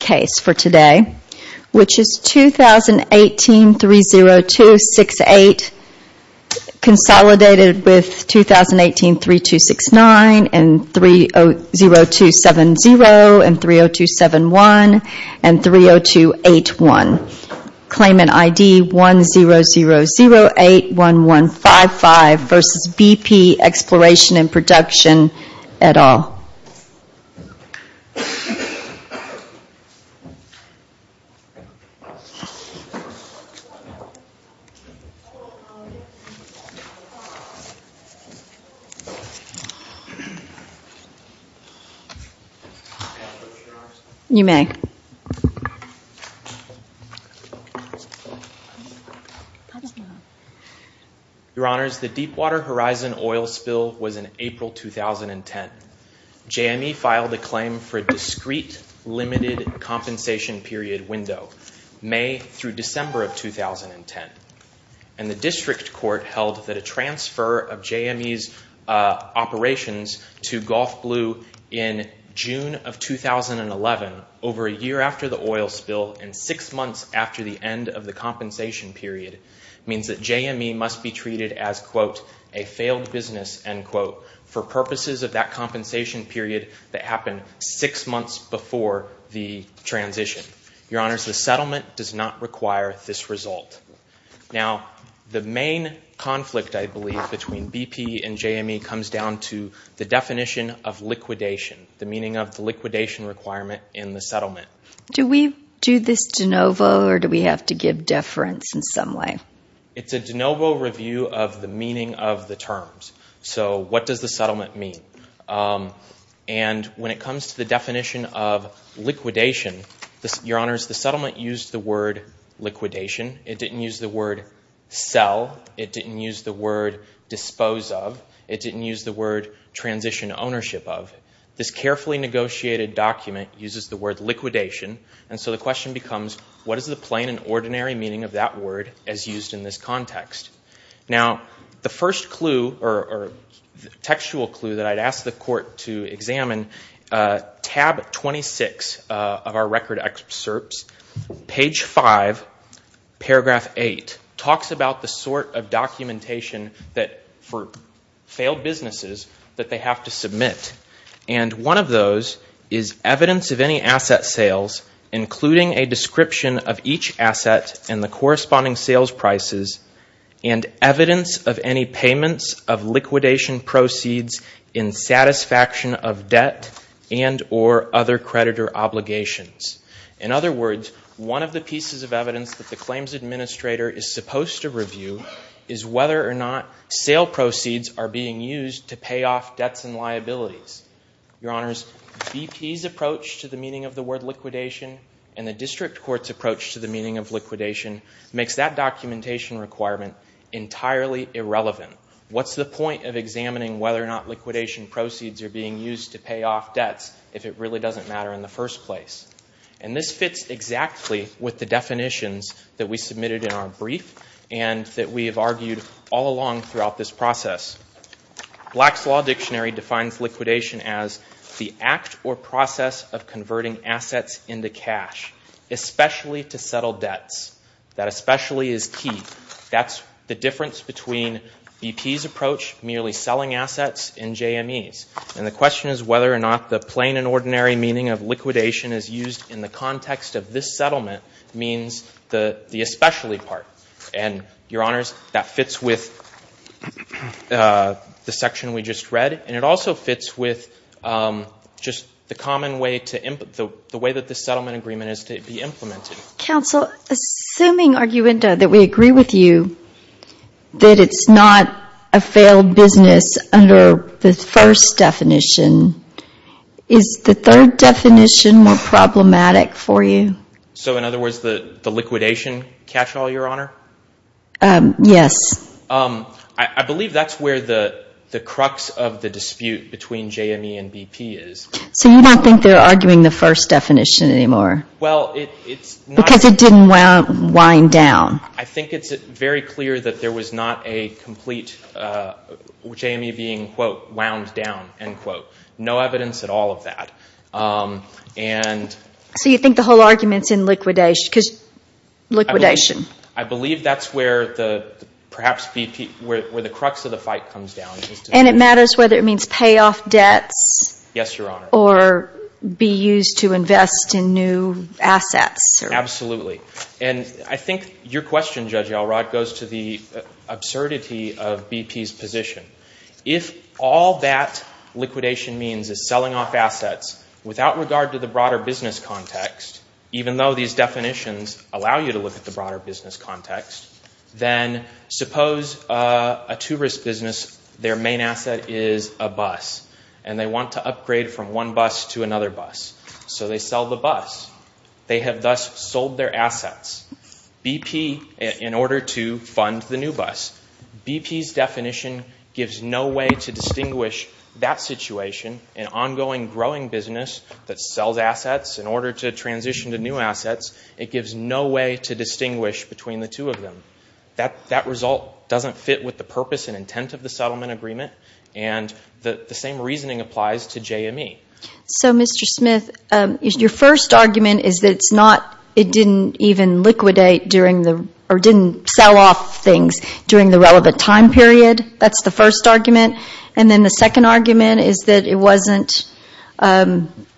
have a case for today, which is 2018-30268, consolidated with 2018-3269, 30270, 30271, and 30281. Claimant ID 100081155 v. BP Exploration & Prodn, et al. Your Honors, the Deepwater Horizon oil spill was in April 2010. JME filed a claim for a discrete limited compensation period window, May through December of 2010. And the district court held that a transfer of JME's operations to Gulf Blue in June of 2011, over a year after the oil spill and six months after the end of the compensation period, means that JME must be treated as, quote, a failed business, end quote, for purposes of that compensation period that happened six months before the transition. Your Honors, the settlement does not require this result. Now, the main conflict, I believe, between BP and JME comes down to the definition of liquidation, the meaning of the liquidation requirement in the settlement. Do we do this de novo, or do we have to give deference in some way? It's a de novo review of the meaning of the terms. So what does the settlement mean? And when it comes to the definition of liquidation, Your Honors, the settlement used the word liquidation. It didn't use the word sell. It didn't use the word dispose of. It didn't use the word transition ownership of. This carefully negotiated document uses the word liquidation. And so the question becomes, what is the plain and ordinary meaning of that word as used in this context? Now, the first clue, or textual clue that I'd ask the Court to examine, tab 26 of our record excerpts, page 5, paragraph 8, talks about the sort of documentation for failed businesses that they have to submit. And one of those is evidence of any asset sales, including a description of each asset and the corresponding sales prices, and evidence of any payments of liquidation proceeds in satisfaction of debt and or other creditor obligations. In other words, one of the pieces of evidence that the claims administrator is supposed to review is whether or not sale proceeds are being used to pay off debts and liabilities. Your Honors, BP's approach to the meaning of the word liquidation and the District Court's approach to the meaning of liquidation makes that documentation requirement entirely irrelevant. What's the point of examining whether or not liquidation proceeds are being used to pay off debts if it really doesn't matter in the first place? And this fits exactly with the definitions that we submitted in our brief and that we have argued all along throughout this process. Black's Law Dictionary defines liquidation as the act or process of converting assets into cash, especially to settle debts. That especially is key. That's the difference between BP's approach, merely selling assets, and JME's. And the question is whether or not the plain and ordinary meaning of liquidation is used in the context of this settlement means the especially part. And, Your Honors, that fits with the section we just read, and it also fits with just the common way that this settlement agreement is to be implemented. Counsel, assuming, Arguendo, that we agree with you, that it's not a failed business under the first definition, is the third definition more problematic for you? So, in other words, the liquidation catch-all, Your Honor? Yes. I believe that's where the crux of the dispute between JME and BP is. So you don't think they're arguing the first definition anymore? Well, it's not. Because it didn't wind down. I think it's very clear that there was not a complete JME being, quote, wound down, end quote. No evidence at all of that. So you think the whole argument's in liquidation? I believe that's where perhaps BP, where the crux of the fight comes down. And it matters whether it means payoff debts? Yes, Your Honor. Or be used to invest in new assets? Absolutely. And I think your question, Judge Elrod, goes to the absurdity of BP's position. If all that liquidation means is selling off assets without regard to the broader business context, even though these definitions allow you to look at the broader business context, then suppose a two-risk business, their main asset is a bus. And they want to upgrade from one bus to another bus. So they sell the bus. They have thus sold their assets, BP, in order to fund the new bus. BP's definition gives no way to distinguish that situation. An ongoing growing business that sells assets in order to transition to new assets, it gives no way to distinguish between the two of them. That result doesn't fit with the purpose and intent of the settlement agreement. And the same reasoning applies to JME. So, Mr. Smith, your first argument is that it didn't even liquidate or didn't sell off things during the relevant time period. That's the first argument. And then the second argument is that it wasn't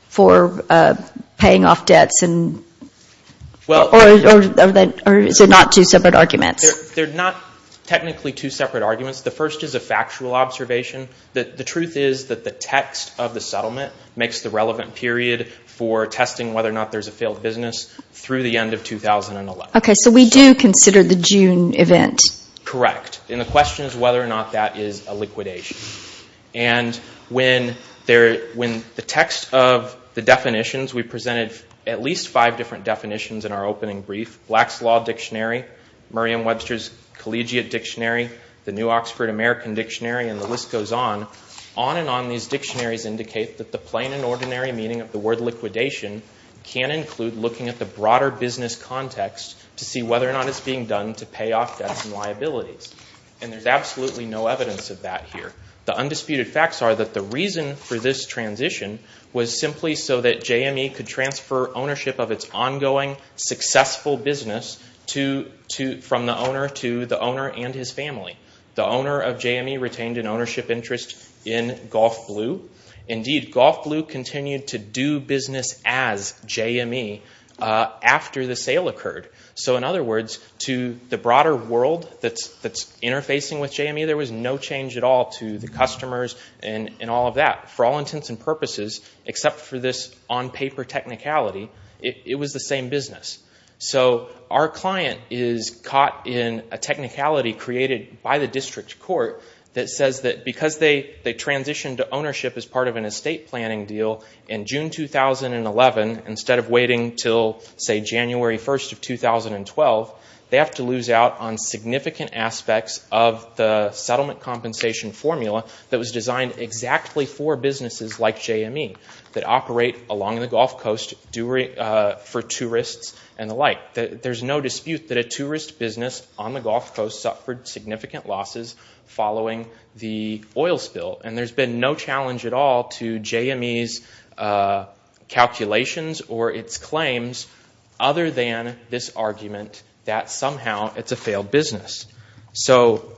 for paying off debts. Or is it not two separate arguments? They're not technically two separate arguments. The first is a factual observation. The truth is that the text of the settlement makes the relevant period for testing whether or not there's a failed business through the end of 2011. Okay, so we do consider the June event. Correct. And the question is whether or not that is a liquidation. And when the text of the definitions, we presented at least five different definitions in our opening brief. Black's Law Dictionary, Merriam-Webster's Collegiate Dictionary, the New Oxford American Dictionary, and the list goes on, on and on these dictionaries indicate that the plain and ordinary meaning of the word liquidation can include looking at the broader business context to see whether or not it's being done to pay off debts and liabilities. And there's absolutely no evidence of that here. The undisputed facts are that the reason for this transition was simply so that JME could transfer ownership of its ongoing, successful business from the owner to the owner and his family. The owner of JME retained an ownership interest in Golf Blue. Indeed, Golf Blue continued to do business as JME after the sale occurred. So in other words, to the broader world that's interfacing with JME, there was no change at all to the customers and all of that. For all intents and purposes, except for this on-paper technicality, it was the same business. So our client is caught in a technicality created by the district court that says that because they transitioned to ownership as part of an estate planning deal in June 2011 instead of waiting until, say, January 1st of 2012, they have to lose out on significant aspects of the settlement compensation formula that was designed exactly for businesses like JME that operate along the Gulf Coast for tourists and the like. There's no dispute that a tourist business on the Gulf Coast suffered significant losses following the oil spill. And there's been no challenge at all to JME's calculations or its claims other than this argument that somehow it's a failed business. So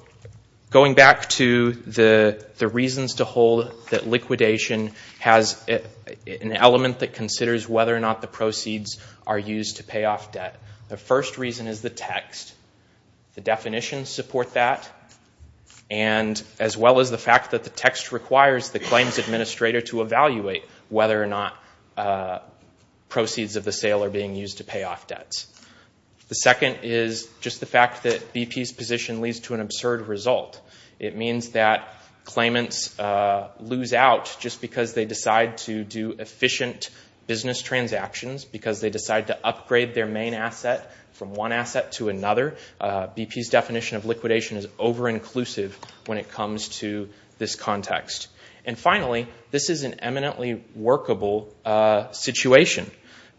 going back to the reasons to hold that liquidation has an element that considers whether or not the proceeds are used to pay off debt, the first reason is the text. The definitions support that as well as the fact that the text requires the claims administrator to evaluate whether or not proceeds of the sale are being used to pay off debts. The second is just the fact that BP's position leads to an absurd result. It means that claimants lose out just because they decide to do efficient business transactions, because they decide to upgrade their main asset from one asset to another. BP's definition of liquidation is over-inclusive when it comes to this context. And finally, this is an eminently workable situation.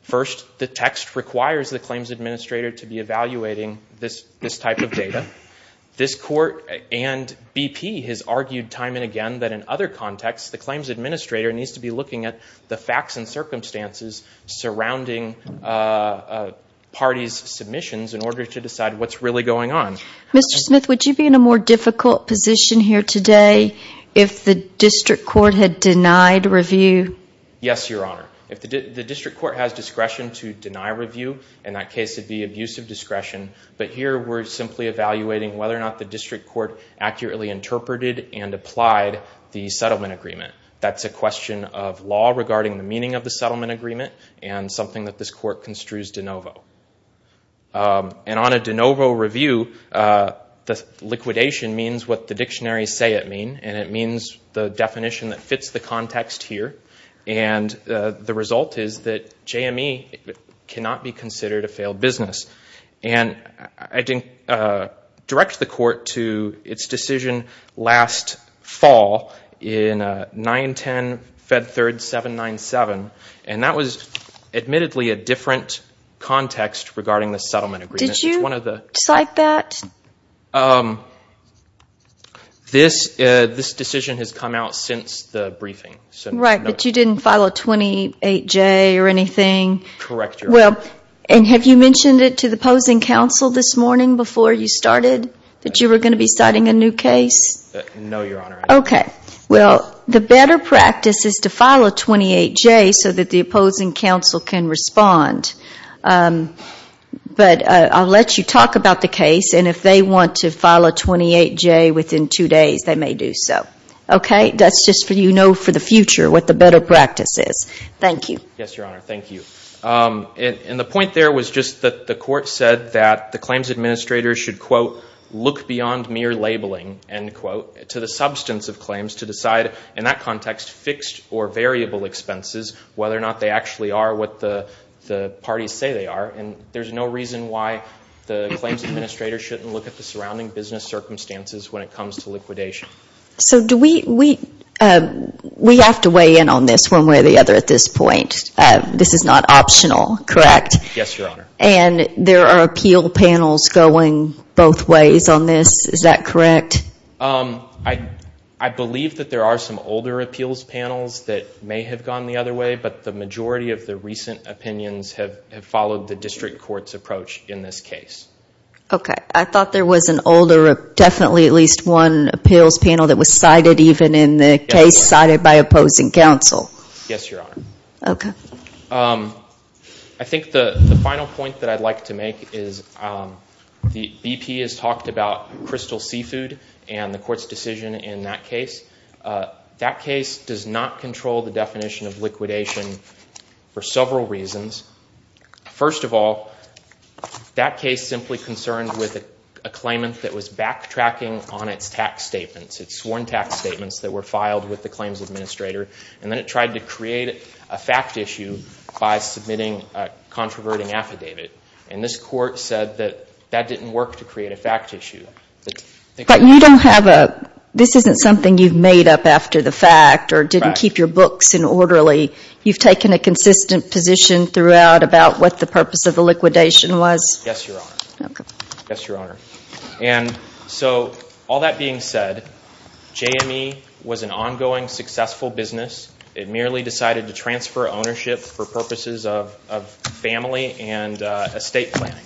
First, the text requires the claims administrator to be evaluating this type of data. This court and BP has argued time and again that in other contexts, the claims administrator needs to be looking at the facts and circumstances surrounding parties' submissions in order to decide what's really going on. Mr. Smith, would you be in a more difficult position here today if the district court had denied review? Yes, Your Honor. If the district court has discretion to deny review, in that case it would be abusive discretion. But here we're simply evaluating whether or not the district court accurately interpreted and applied the settlement agreement. That's a question of law regarding the meaning of the settlement agreement and something that this court construes de novo. And on a de novo review, the liquidation means what the dictionaries say it means, and it means the definition that fits the context here. And the result is that JME cannot be considered a failed business. And I didn't direct the court to its decision last fall in 910 Fed Third 797, and that was admittedly a different context regarding the settlement agreement. Did you decide that? This decision has come out since the briefing. Right, but you didn't file a 28-J or anything? Correct, Your Honor. And have you mentioned it to the opposing counsel this morning before you started that you were going to be citing a new case? No, Your Honor. Okay. Well, the better practice is to file a 28-J so that the opposing counsel can respond. But I'll let you talk about the case, and if they want to file a 28-J within two days, they may do so. Okay? That's just so you know for the future what the better practice is. Thank you. Yes, Your Honor. Thank you. And the point there was just that the court said that the claims administrator should, quote, look beyond mere labeling, end quote, to the substance of claims to decide, in that context, fixed or variable expenses, whether or not they actually are what the parties say they are. And there's no reason why the claims administrator shouldn't look at the surrounding business circumstances when it comes to liquidation. So we have to weigh in on this one way or the other at this point. This is not optional, correct? Yes, Your Honor. And there are appeal panels going both ways on this. Is that correct? I believe that there are some older appeals panels that may have gone the other way, but the majority of the recent opinions have followed the district court's approach in this case. Okay. I thought there was an older, definitely at least one appeals panel that was cited even in the case cited by opposing counsel. Yes, Your Honor. Okay. I think the final point that I'd like to make is BP has talked about crystal seafood and the court's decision in that case. That case does not control the definition of liquidation for several reasons. First of all, that case simply concerned with a claimant that was backtracking on its tax statements, its sworn tax statements that were filed with the claims administrator, and then it tried to create a fact issue by submitting a controverting affidavit. And this court said that that didn't work to create a fact issue. But you don't have a, this isn't something you've made up after the fact or didn't keep your books in orderly. You've taken a consistent position throughout about what the purpose of the liquidation was. Yes, Your Honor. Okay. Yes, Your Honor. And so all that being said, JME was an ongoing successful business. It merely decided to transfer ownership for purposes of family and estate planning.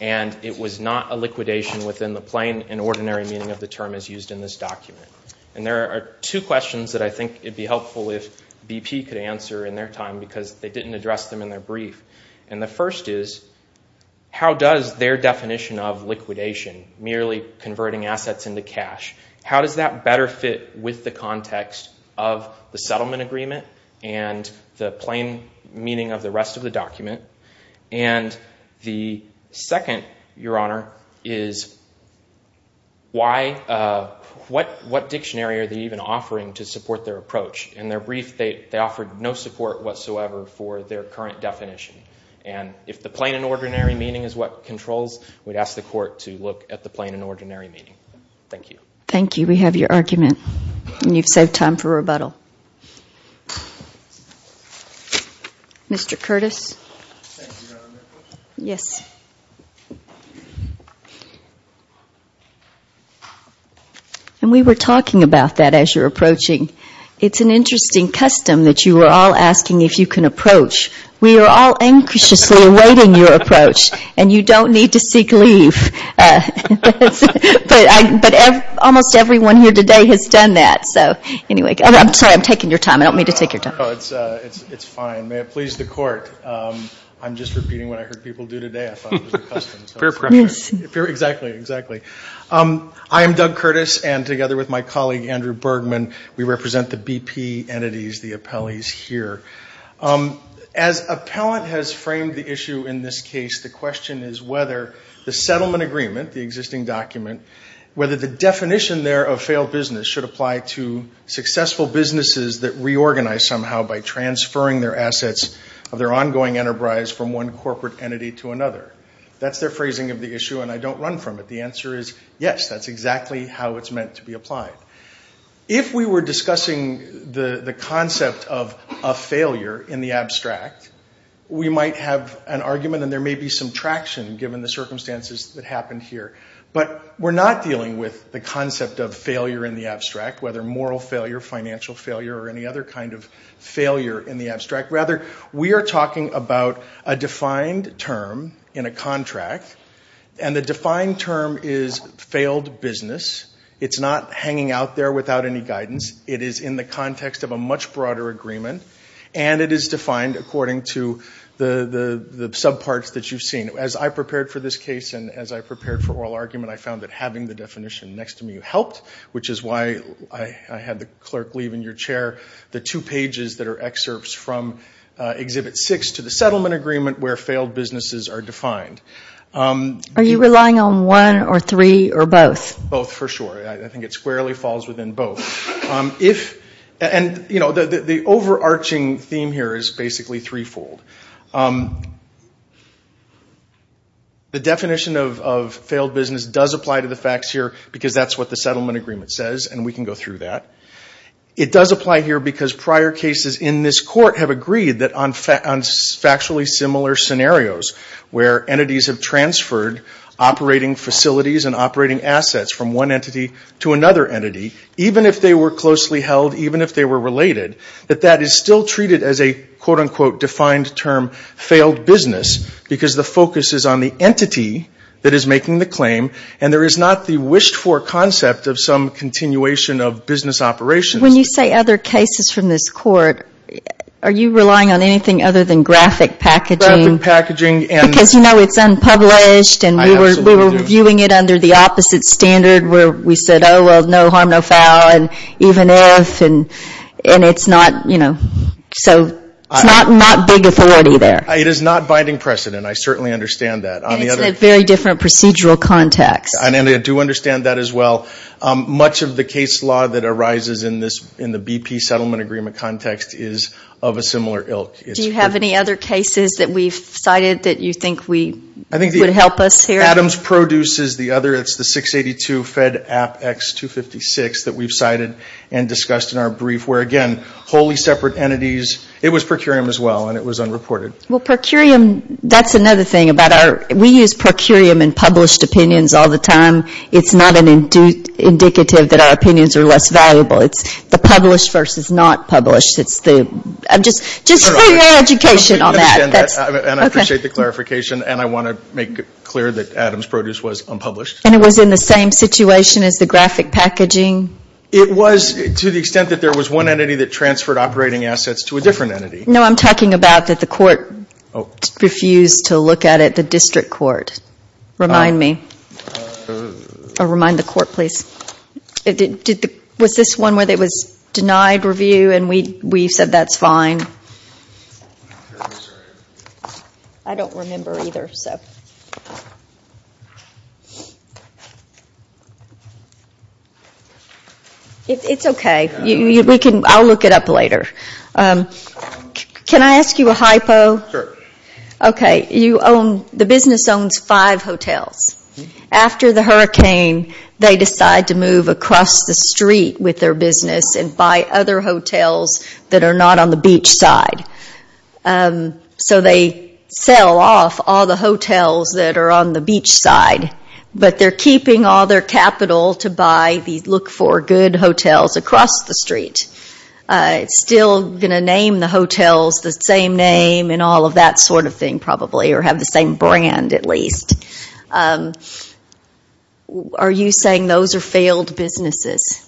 And it was not a liquidation within the plain and ordinary meaning of the term as used in this document. And there are two questions that I think it'd be helpful if BP could answer in their time because they didn't address them in their brief. And the first is, how does their definition of liquidation, merely converting assets into cash, how does that better fit with the context of the settlement agreement and the plain meaning of the rest of the document? And the second, Your Honor, is what dictionary are they even offering to support their approach? In their brief, they offered no support whatsoever for their current definition. And if the plain and ordinary meaning is what controls, we'd ask the court to look at the plain and ordinary meaning. Thank you. Thank you. We have your argument and you've saved time for rebuttal. Mr. Curtis. Thank you, Your Honor. Yes. And we were talking about that as you're approaching. It's an interesting custom that you are all asking if you can approach. We are all anxiously awaiting your approach. And you don't need to seek leave. But almost everyone here today has done that. I'm sorry. I'm taking your time. I don't mean to take your time. It's fine. May it please the court. I'm just repeating what I heard people do today. I thought it was a custom. Fair question. Exactly. Exactly. I am Doug Curtis and together with my colleague, Andrew Bergman, we represent the BP entities, the appellees here. As appellant has framed the issue in this case, the question is whether the settlement agreement, the existing document, whether the definition there of failed business should apply to successful businesses that reorganize somehow by transferring their assets of their ongoing enterprise from one corporate entity to another. That's their phrasing of the issue. And I don't run from it. The answer is yes. That's exactly how it's meant to be applied. If we were discussing the concept of a failure in the abstract, we might have an argument and there may be some traction given the circumstances that happened here. But we're not dealing with the concept of failure in the abstract, whether moral failure, financial failure, or any other kind of failure in the abstract. Rather, we are talking about a defined term in a contract. And the defined term is failed business. It's not hanging out there without any guidance. It is in the context of a much broader agreement. And it is defined according to the subparts that you've seen. As I prepared for this case and as I prepared for oral argument, I found that having the definition next to me helped, which is why I had the clerk leave in your chair the two pages that are excerpts from Exhibit 6 to the settlement agreement where failed businesses are defined. Are you relying on one or three or both? Both for sure. I think it squarely falls within both. And the overarching theme here is basically threefold. The definition of failed business does apply to the facts here because that's what the settlement agreement says, and we can go through that. It does apply here because prior cases in this court have agreed that on factually similar scenarios where entities have transferred operating facilities and operating assets from one entity to another entity, even if they were closely held, even if they were related, that that is still treated as a quote, unquote, defined term failed business because the focus is on the entity that is making the claim and there is not the wished for concept of some continuation of business operations. When you say other cases from this court, are you relying on anything other than graphic packaging? Graphic packaging. Because you know it's unpublished. I absolutely do. And we were reviewing it under the opposite standard where we said, oh, well, no harm, no foul, and even if, and it's not, you know, so it's not big authority there. It is not binding precedent. I certainly understand that. And it's in a very different procedural context. I do understand that as well. Much of the case law that arises in the BP settlement agreement context is of a similar ilk. Do you have any other cases that we've cited that you think would help us here? Adams Produce is the other. We've cited and discussed in our brief where, again, wholly separate entities. It was per curiam as well and it was unreported. Well, per curiam, that's another thing about our, we use per curiam in published opinions all the time. It's not an indicative that our opinions are less valuable. It's the published versus not published. It's the, I'm just, just for your education on that. And I appreciate the clarification. And I want to make it clear that Adams Produce was unpublished. And it was in the same situation as the graphic packaging? It was to the extent that there was one entity that transferred operating assets to a different entity. No, I'm talking about that the court refused to look at it, the district court. Remind me. Remind the court, please. Was this one where it was denied review and we said that's fine? I don't remember either, so. It's okay. We can, I'll look it up later. Can I ask you a hypo? Sure. Okay. You own, the business owns five hotels. After the hurricane, they decide to move across the street with their business and buy other hotels that are not on the beach side. So they sell off all the hotels that are on the beach side. But they're keeping all their capital to buy, look for good hotels across the street. Still going to name the hotels the same name and all of that sort of thing probably, or have the same brand at least. Are you saying those are failed businesses?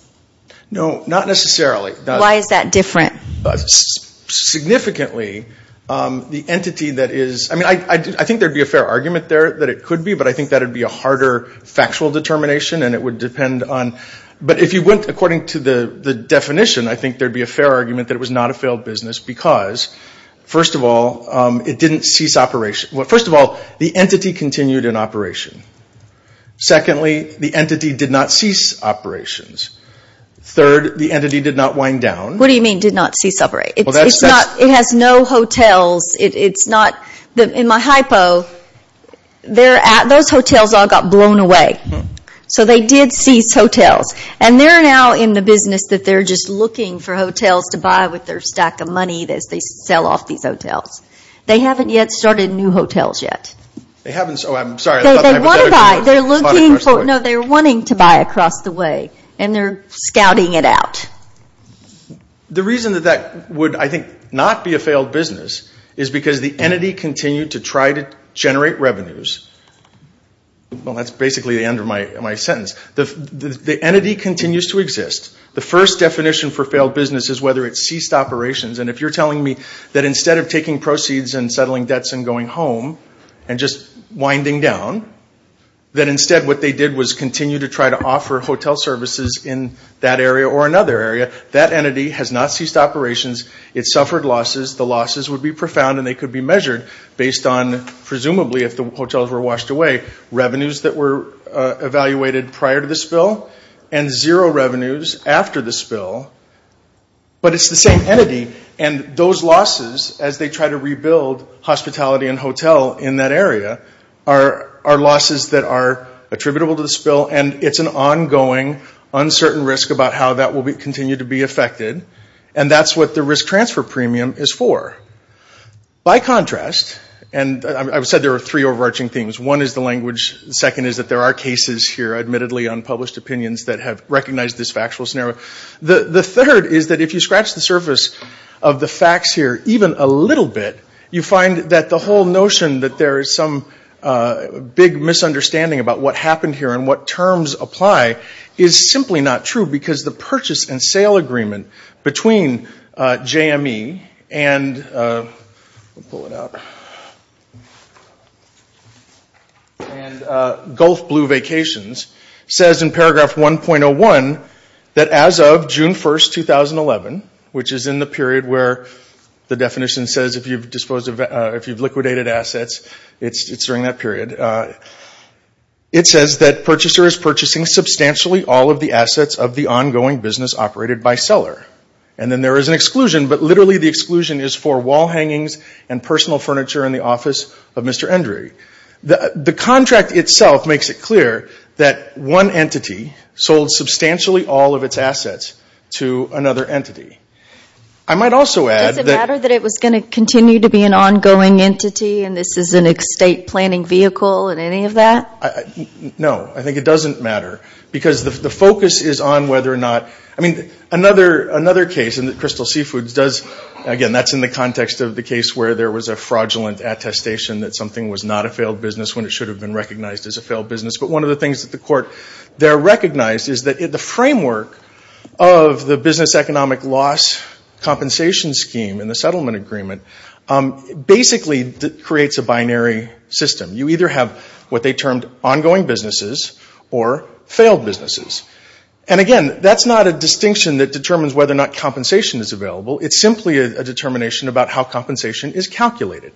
No, not necessarily. Why is that different? Significantly, the entity that is, I mean, I think there would be a fair argument there that it could be, but I think that would be a harder factual determination and it would depend on, but if you went according to the definition, I think there would be a fair argument that it was not a failed business because, first of all, it didn't cease operation. First of all, the entity continued in operation. Secondly, the entity did not cease operations. Third, the entity did not wind down. What do you mean did not cease operation? It has no hotels. In my hypo, those hotels all got blown away. So they did cease hotels. And they're now in the business that they're just looking for hotels to buy with their stack of money as they sell off these hotels. They haven't yet started new hotels yet. They haven't? Oh, I'm sorry. They're looking for, no, they're wanting to buy across the way, and they're scouting it out. The reason that that would, I think, not be a failed business is because the entity continued to try to generate revenues. Well, that's basically the end of my sentence. The entity continues to exist. The first definition for failed business is whether it ceased operations. And if you're telling me that instead of taking proceeds and settling debts and going home and just winding down, that instead what they did was continue to try to offer hotel services in that area or another area. That entity has not ceased operations. It suffered losses. The losses would be profound, and they could be measured based on, presumably, if the hotels were washed away, revenues that were evaluated prior to the spill and zero revenues after the spill. But it's the same entity. And those losses, as they try to rebuild hospitality and hotel in that area, are losses that are attributable to the spill, and it's an ongoing uncertain risk about how that will continue to be affected. And that's what the risk transfer premium is for. By contrast, and I've said there are three overarching themes. One is the language. The second is that there are cases here, admittedly, on published opinions that have recognized this factual scenario. The third is that if you scratch the surface of the facts here even a little bit, you find that the whole notion that there is some big misunderstanding about what happened here and what terms apply is simply not true, because the purchase and sale agreement between JME and Gulf Blue Vacations says in paragraph 1.01 that as of June 1, 2011, which is in the period where the definition says if you've liquidated assets, it's during that period, it says that purchaser is purchasing substantially all of the assets of the ongoing business operated by seller. And then there is an exclusion, but literally the exclusion is for wall hangings and personal furniture in the office of Mr. Endry. The contract itself makes it clear that one entity sold substantially all of its assets to another entity. Does it matter that it was going to continue to be an ongoing entity and this is an estate planning vehicle in any of that? No. I think it doesn't matter, because the focus is on whether or not – I mean, another case in the Crystal Seafoods does – again, that's in the context of the case where there was a fraudulent attestation that something was not a failed business when it should have been recognized as a failed business. But one of the things that the court there recognized is that the framework of the business economic loss compensation scheme in the settlement agreement basically creates a binary system. You either have what they termed ongoing businesses or failed businesses. And again, that's not a distinction that determines whether or not compensation is available. It's simply a determination about how compensation is calculated.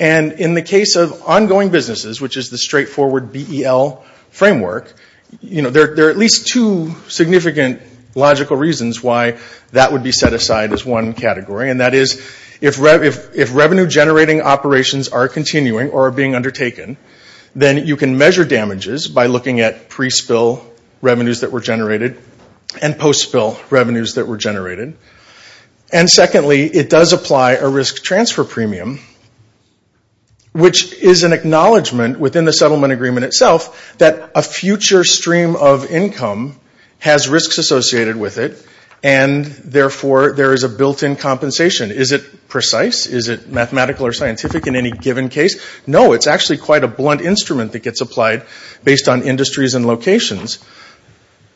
And in the case of ongoing businesses, which is the straightforward BEL framework, you know, there are at least two significant logical reasons why that would be set aside as one category. And that is, if revenue-generating operations are continuing or are being undertaken, then you can measure damages by looking at pre-spill revenues that were generated and post-spill revenues that were generated. And secondly, it does apply a risk transfer premium, which is an acknowledgment within the settlement agreement itself that a future stream of income has risks associated with it and therefore there is a built-in compensation. Is it precise? Is it mathematical or scientific in any given case? No, it's actually quite a blunt instrument that gets applied based on industries and locations.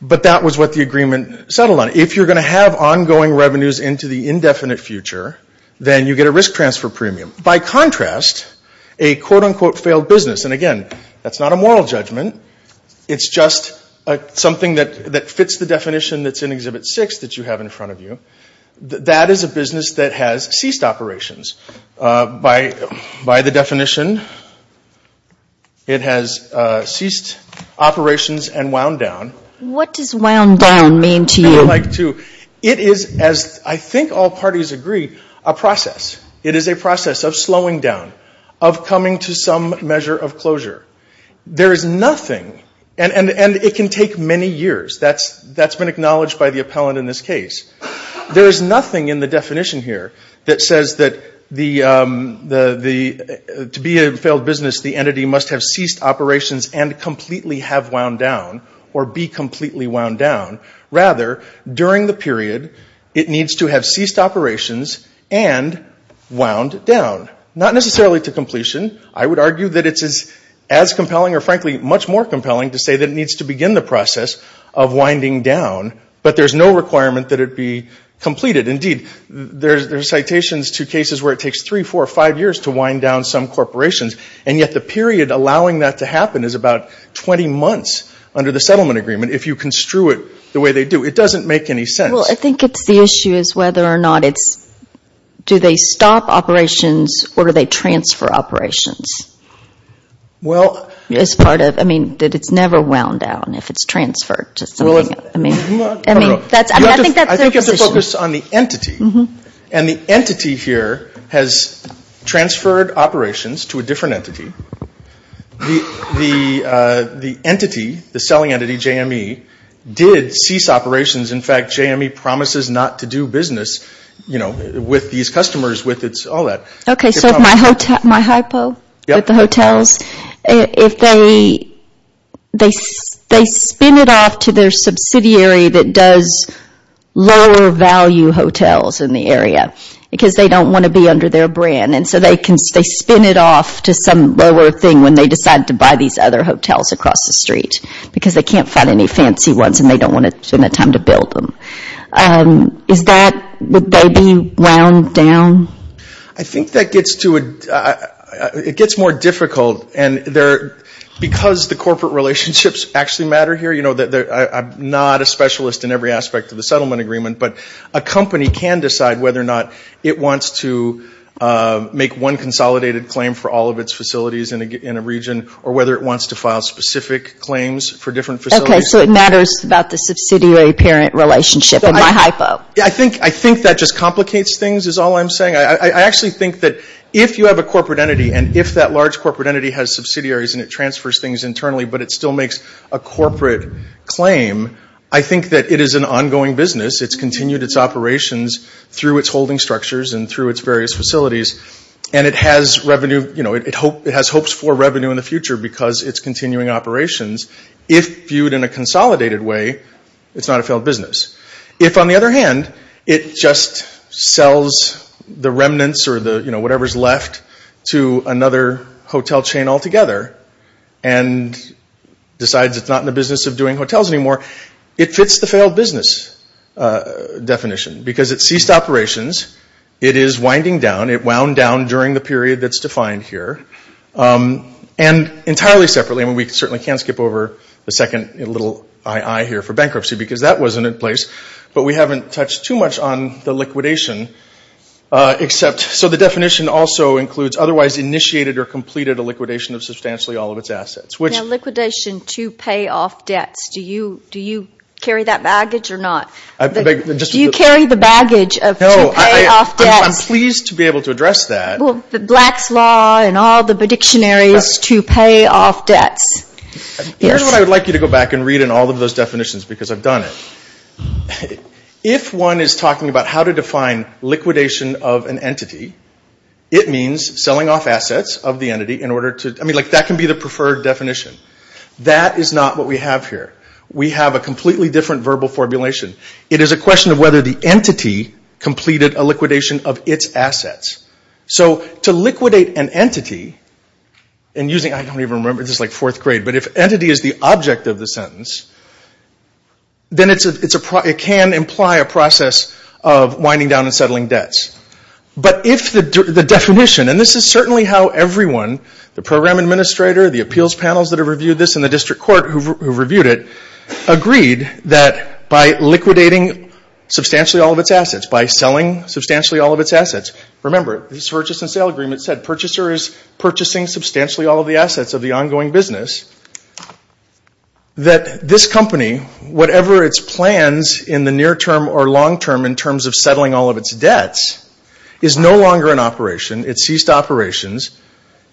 But that was what the agreement settled on. If you're going to have ongoing revenues into the indefinite future, then you get a risk transfer premium. By contrast, a quote-unquote failed business, and again, that's not a moral judgment. It's just something that fits the definition that's in Exhibit 6 that you have in front of you. That is a business that has ceased operations. By the definition, it has ceased operations and wound down. What does wound down mean to you? It is, as I think all parties agree, a process. It is a process of slowing down, of coming to some measure of closure. There is nothing, and it can take many years. That's been acknowledged by the appellant in this case. There is nothing in the definition here that says that to be a failed business, the entity must have ceased operations and completely have wound down or be completely wound down. Rather, during the period, it needs to have ceased operations and wound down. Not necessarily to completion. I would argue that it's as compelling or, frankly, much more compelling to say that it needs to begin the process of winding down, but there's no requirement that it be completed. Indeed, there are citations to cases where it takes three, four, or five years to wind down some corporations, and yet the period allowing that to happen is about 20 months under the settlement agreement if you construe it the way they do. It doesn't make any sense. Well, I think it's the issue is whether or not it's, do they stop operations or do they transfer operations as part of, I mean, that it's never wound down if it's transferred to something. I think that's their position. I think you have to focus on the entity, and the entity here has transferred operations to a different entity. The entity, the selling entity, JME, did cease operations. In fact, JME promises not to do business with these customers with all that. Okay. So my hypo with the hotels, if they spin it off to their subsidiary that does lower value hotels in the area because they don't want to be under their brand, and so they spin it off to some lower thing when they decide to buy these other hotels across the street because they can't find any fancy ones and they don't want to spend the time to build them. Is that, would they be wound down? I think that gets to a, it gets more difficult, and because the corporate relationships actually matter here, I'm not a specialist in every aspect of the settlement agreement, but a company can decide whether or not it wants to make one consolidated claim for all of its facilities in a region, or whether it wants to file specific claims for different facilities. Okay. So it matters about the subsidiary-parent relationship in my hypo. I think that just complicates things is all I'm saying. I actually think that if you have a corporate entity, and if that large corporate entity has subsidiaries and it transfers things internally, but it still makes a corporate claim, I think that it is an ongoing business. It's continued its operations through its holding structures and through its various facilities, and it has revenue, you know, it has hopes for revenue in the future because it's continuing operations. If viewed in a consolidated way, it's not a failed business. If, on the other hand, it just sells the remnants or the, you know, whatever's left to another hotel chain altogether, and decides it's not in the business of doing hotels anymore, it fits the failed business definition because it's ceased operations. It is winding down. It wound down during the period that's defined here, and entirely separately. I mean, we certainly can't skip over the second little I.I. here for bankruptcy because that wasn't in place, but we haven't touched too much on the liquidation. So the definition also includes otherwise initiated or completed a liquidation of substantially all of its assets. Now, liquidation to pay off debts, do you carry that baggage or not? Do you carry the baggage of to pay off debts? No, I'm pleased to be able to address that. Well, the Black's Law and all the dictionaries to pay off debts. Here's what I would like you to go back and read in all of those definitions because I've done it. If one is talking about how to define liquidation of an entity, it means selling off assets of the entity in order to... I mean, that can be the preferred definition. That is not what we have here. We have a completely different verbal formulation. It is a question of whether the entity completed a liquidation of its assets. So to liquidate an entity, and using... I don't even remember, this is like fourth grade, but if entity is the object of the sentence, then it can imply a process of winding down and settling debts. But if the definition, and this is certainly how everyone, the program administrator, the appeals panels that have reviewed this, and the district court who have reviewed it, agreed that by liquidating substantially all of its assets, by selling substantially all of its assets, remember this purchase and sale agreement said purchaser is purchasing substantially all of the assets of the ongoing business, that this company, whatever its plans in the near term or long term in terms of settling all of its debts, is no longer an operation. It ceased operations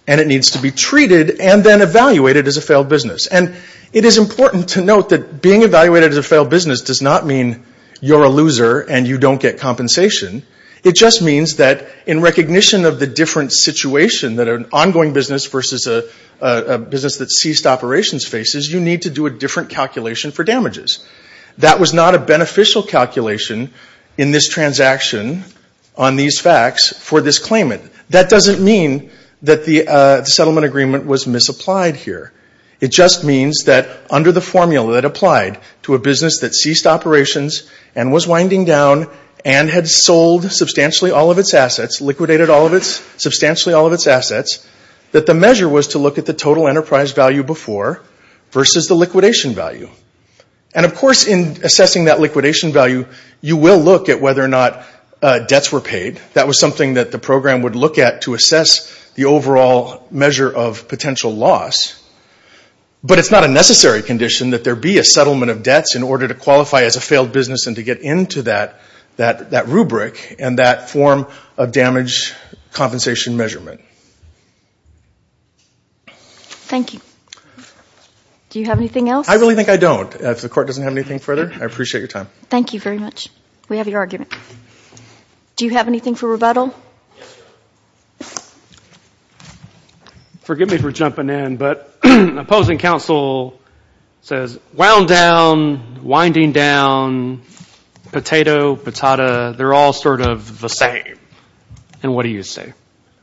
and it needs to be treated and then evaluated as a failed business. And it is important to note that being evaluated as a failed business does not mean you're a loser and you don't get compensation. It just means that in recognition of the different situation, that an ongoing business versus a business that ceased operations faces, you need to do a different calculation for damages. That was not a beneficial calculation in this transaction on these facts for this claimant. That doesn't mean that the settlement agreement was misapplied here. It just means that under the formula that applied to a business that ceased operations and was winding down and had sold substantially all of its assets, liquidated substantially all of its assets, that the measure was to look at the total enterprise value before versus the liquidation value. And of course in assessing that liquidation value, you will look at whether or not debts were paid. That was something that the program would look at to assess the overall measure of potential loss. But it's not a necessary condition that there be a settlement of debts in order to qualify as a failed business and to get into that rubric and that form of damage compensation measurement. Thank you. Do you have anything else? I really think I don't. If the court doesn't have anything further, I appreciate your time. Thank you very much. We have your argument. Do you have anything for rebuttal? Forgive me for jumping in, but opposing counsel says wound down, winding down, potato, patata, they're all sort of the same. And what do you say?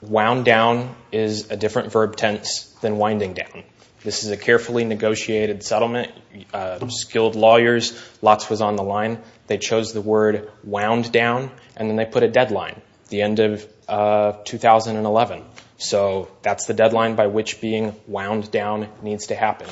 Wound down is a different verb tense than winding down. This is a carefully negotiated settlement. Skilled lawyers, lots was on the line. They chose the word wound down, and then they put a deadline, the end of 2011. So that's the deadline by which being wound down needs to happen.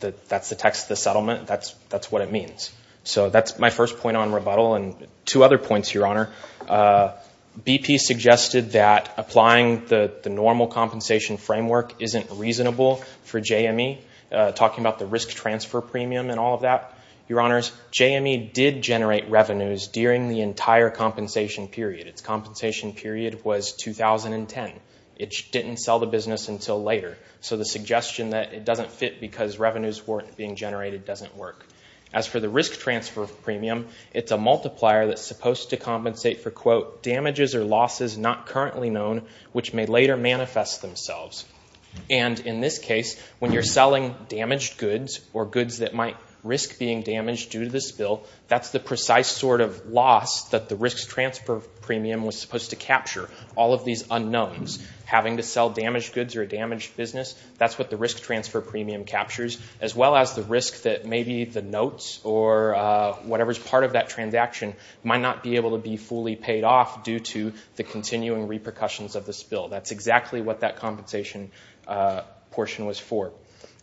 That's the text of the settlement. That's what it means. So that's my first point on rebuttal. Two other points, Your Honor. BP suggested that applying the normal compensation framework isn't reasonable for JME, talking about the risk transfer premium and all of that. Your Honors, JME did generate revenues during the entire compensation period. Its compensation period was 2010. It didn't sell the business until later. So the suggestion that it doesn't fit because revenues weren't being generated doesn't work. As for the risk transfer premium, it's a multiplier that's supposed to compensate for, quote, And in this case, when you're selling damaged goods or goods that might risk being damaged due to the spill, that's the precise sort of loss that the risk transfer premium was supposed to capture. All of these unknowns, having to sell damaged goods or a damaged business, that's what the risk transfer premium captures, as well as the risk that maybe the notes or whatever's part of that transaction might not be able to be fully paid off due to the continuing repercussions of the spill. That's exactly what that compensation portion was for.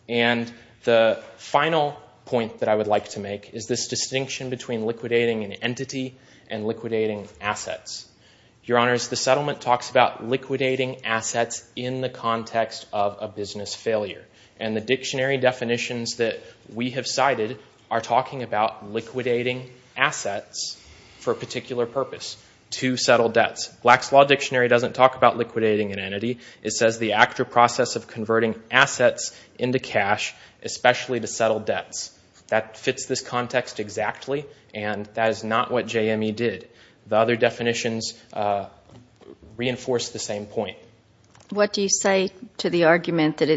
And the final point that I would like to make is this distinction between liquidating an entity and liquidating assets. Your Honors, the settlement talks about liquidating assets in the context of a business failure. And the dictionary definitions that we have cited are talking about liquidating assets for a particular purpose, to settle debts. Black's Law Dictionary doesn't talk about liquidating an entity. It says the actual process of converting assets into cash, especially to settle debts. That fits this context exactly, and that is not what JME did. The other definitions reinforce the same point. What do you say to the argument that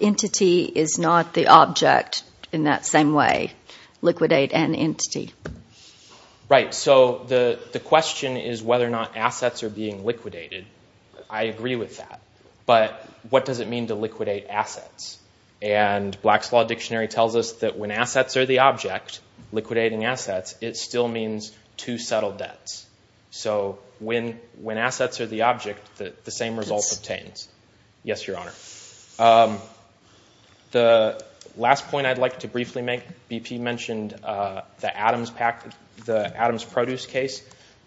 entity is not the object in that same way, liquidate and entity? Right, so the question is whether or not assets are being liquidated. I agree with that. But what does it mean to liquidate assets? And Black's Law Dictionary tells us that when assets are the object, liquidating assets, it still means to settle debts. So when assets are the object, the same result obtains. Yes, Your Honor. The last point I'd like to briefly make. BP mentioned the Adams Produce case.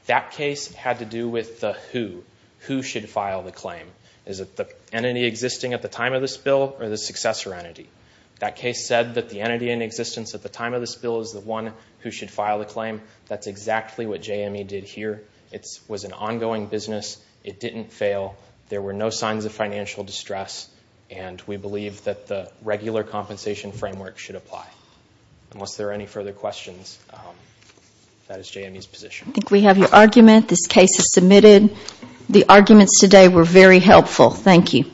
That case had to do with the who. Who should file the claim? Is it the entity existing at the time of the spill, or the successor entity? That case said that the entity in existence at the time of the spill is the one who should file the claim. That's exactly what JME did here. It was an ongoing business. It didn't fail. There were no signs of financial distress. And we believe that the regular compensation framework should apply. Unless there are any further questions, that is JME's position. I think we have your argument. This case is submitted. The arguments today were very helpful. Thank you.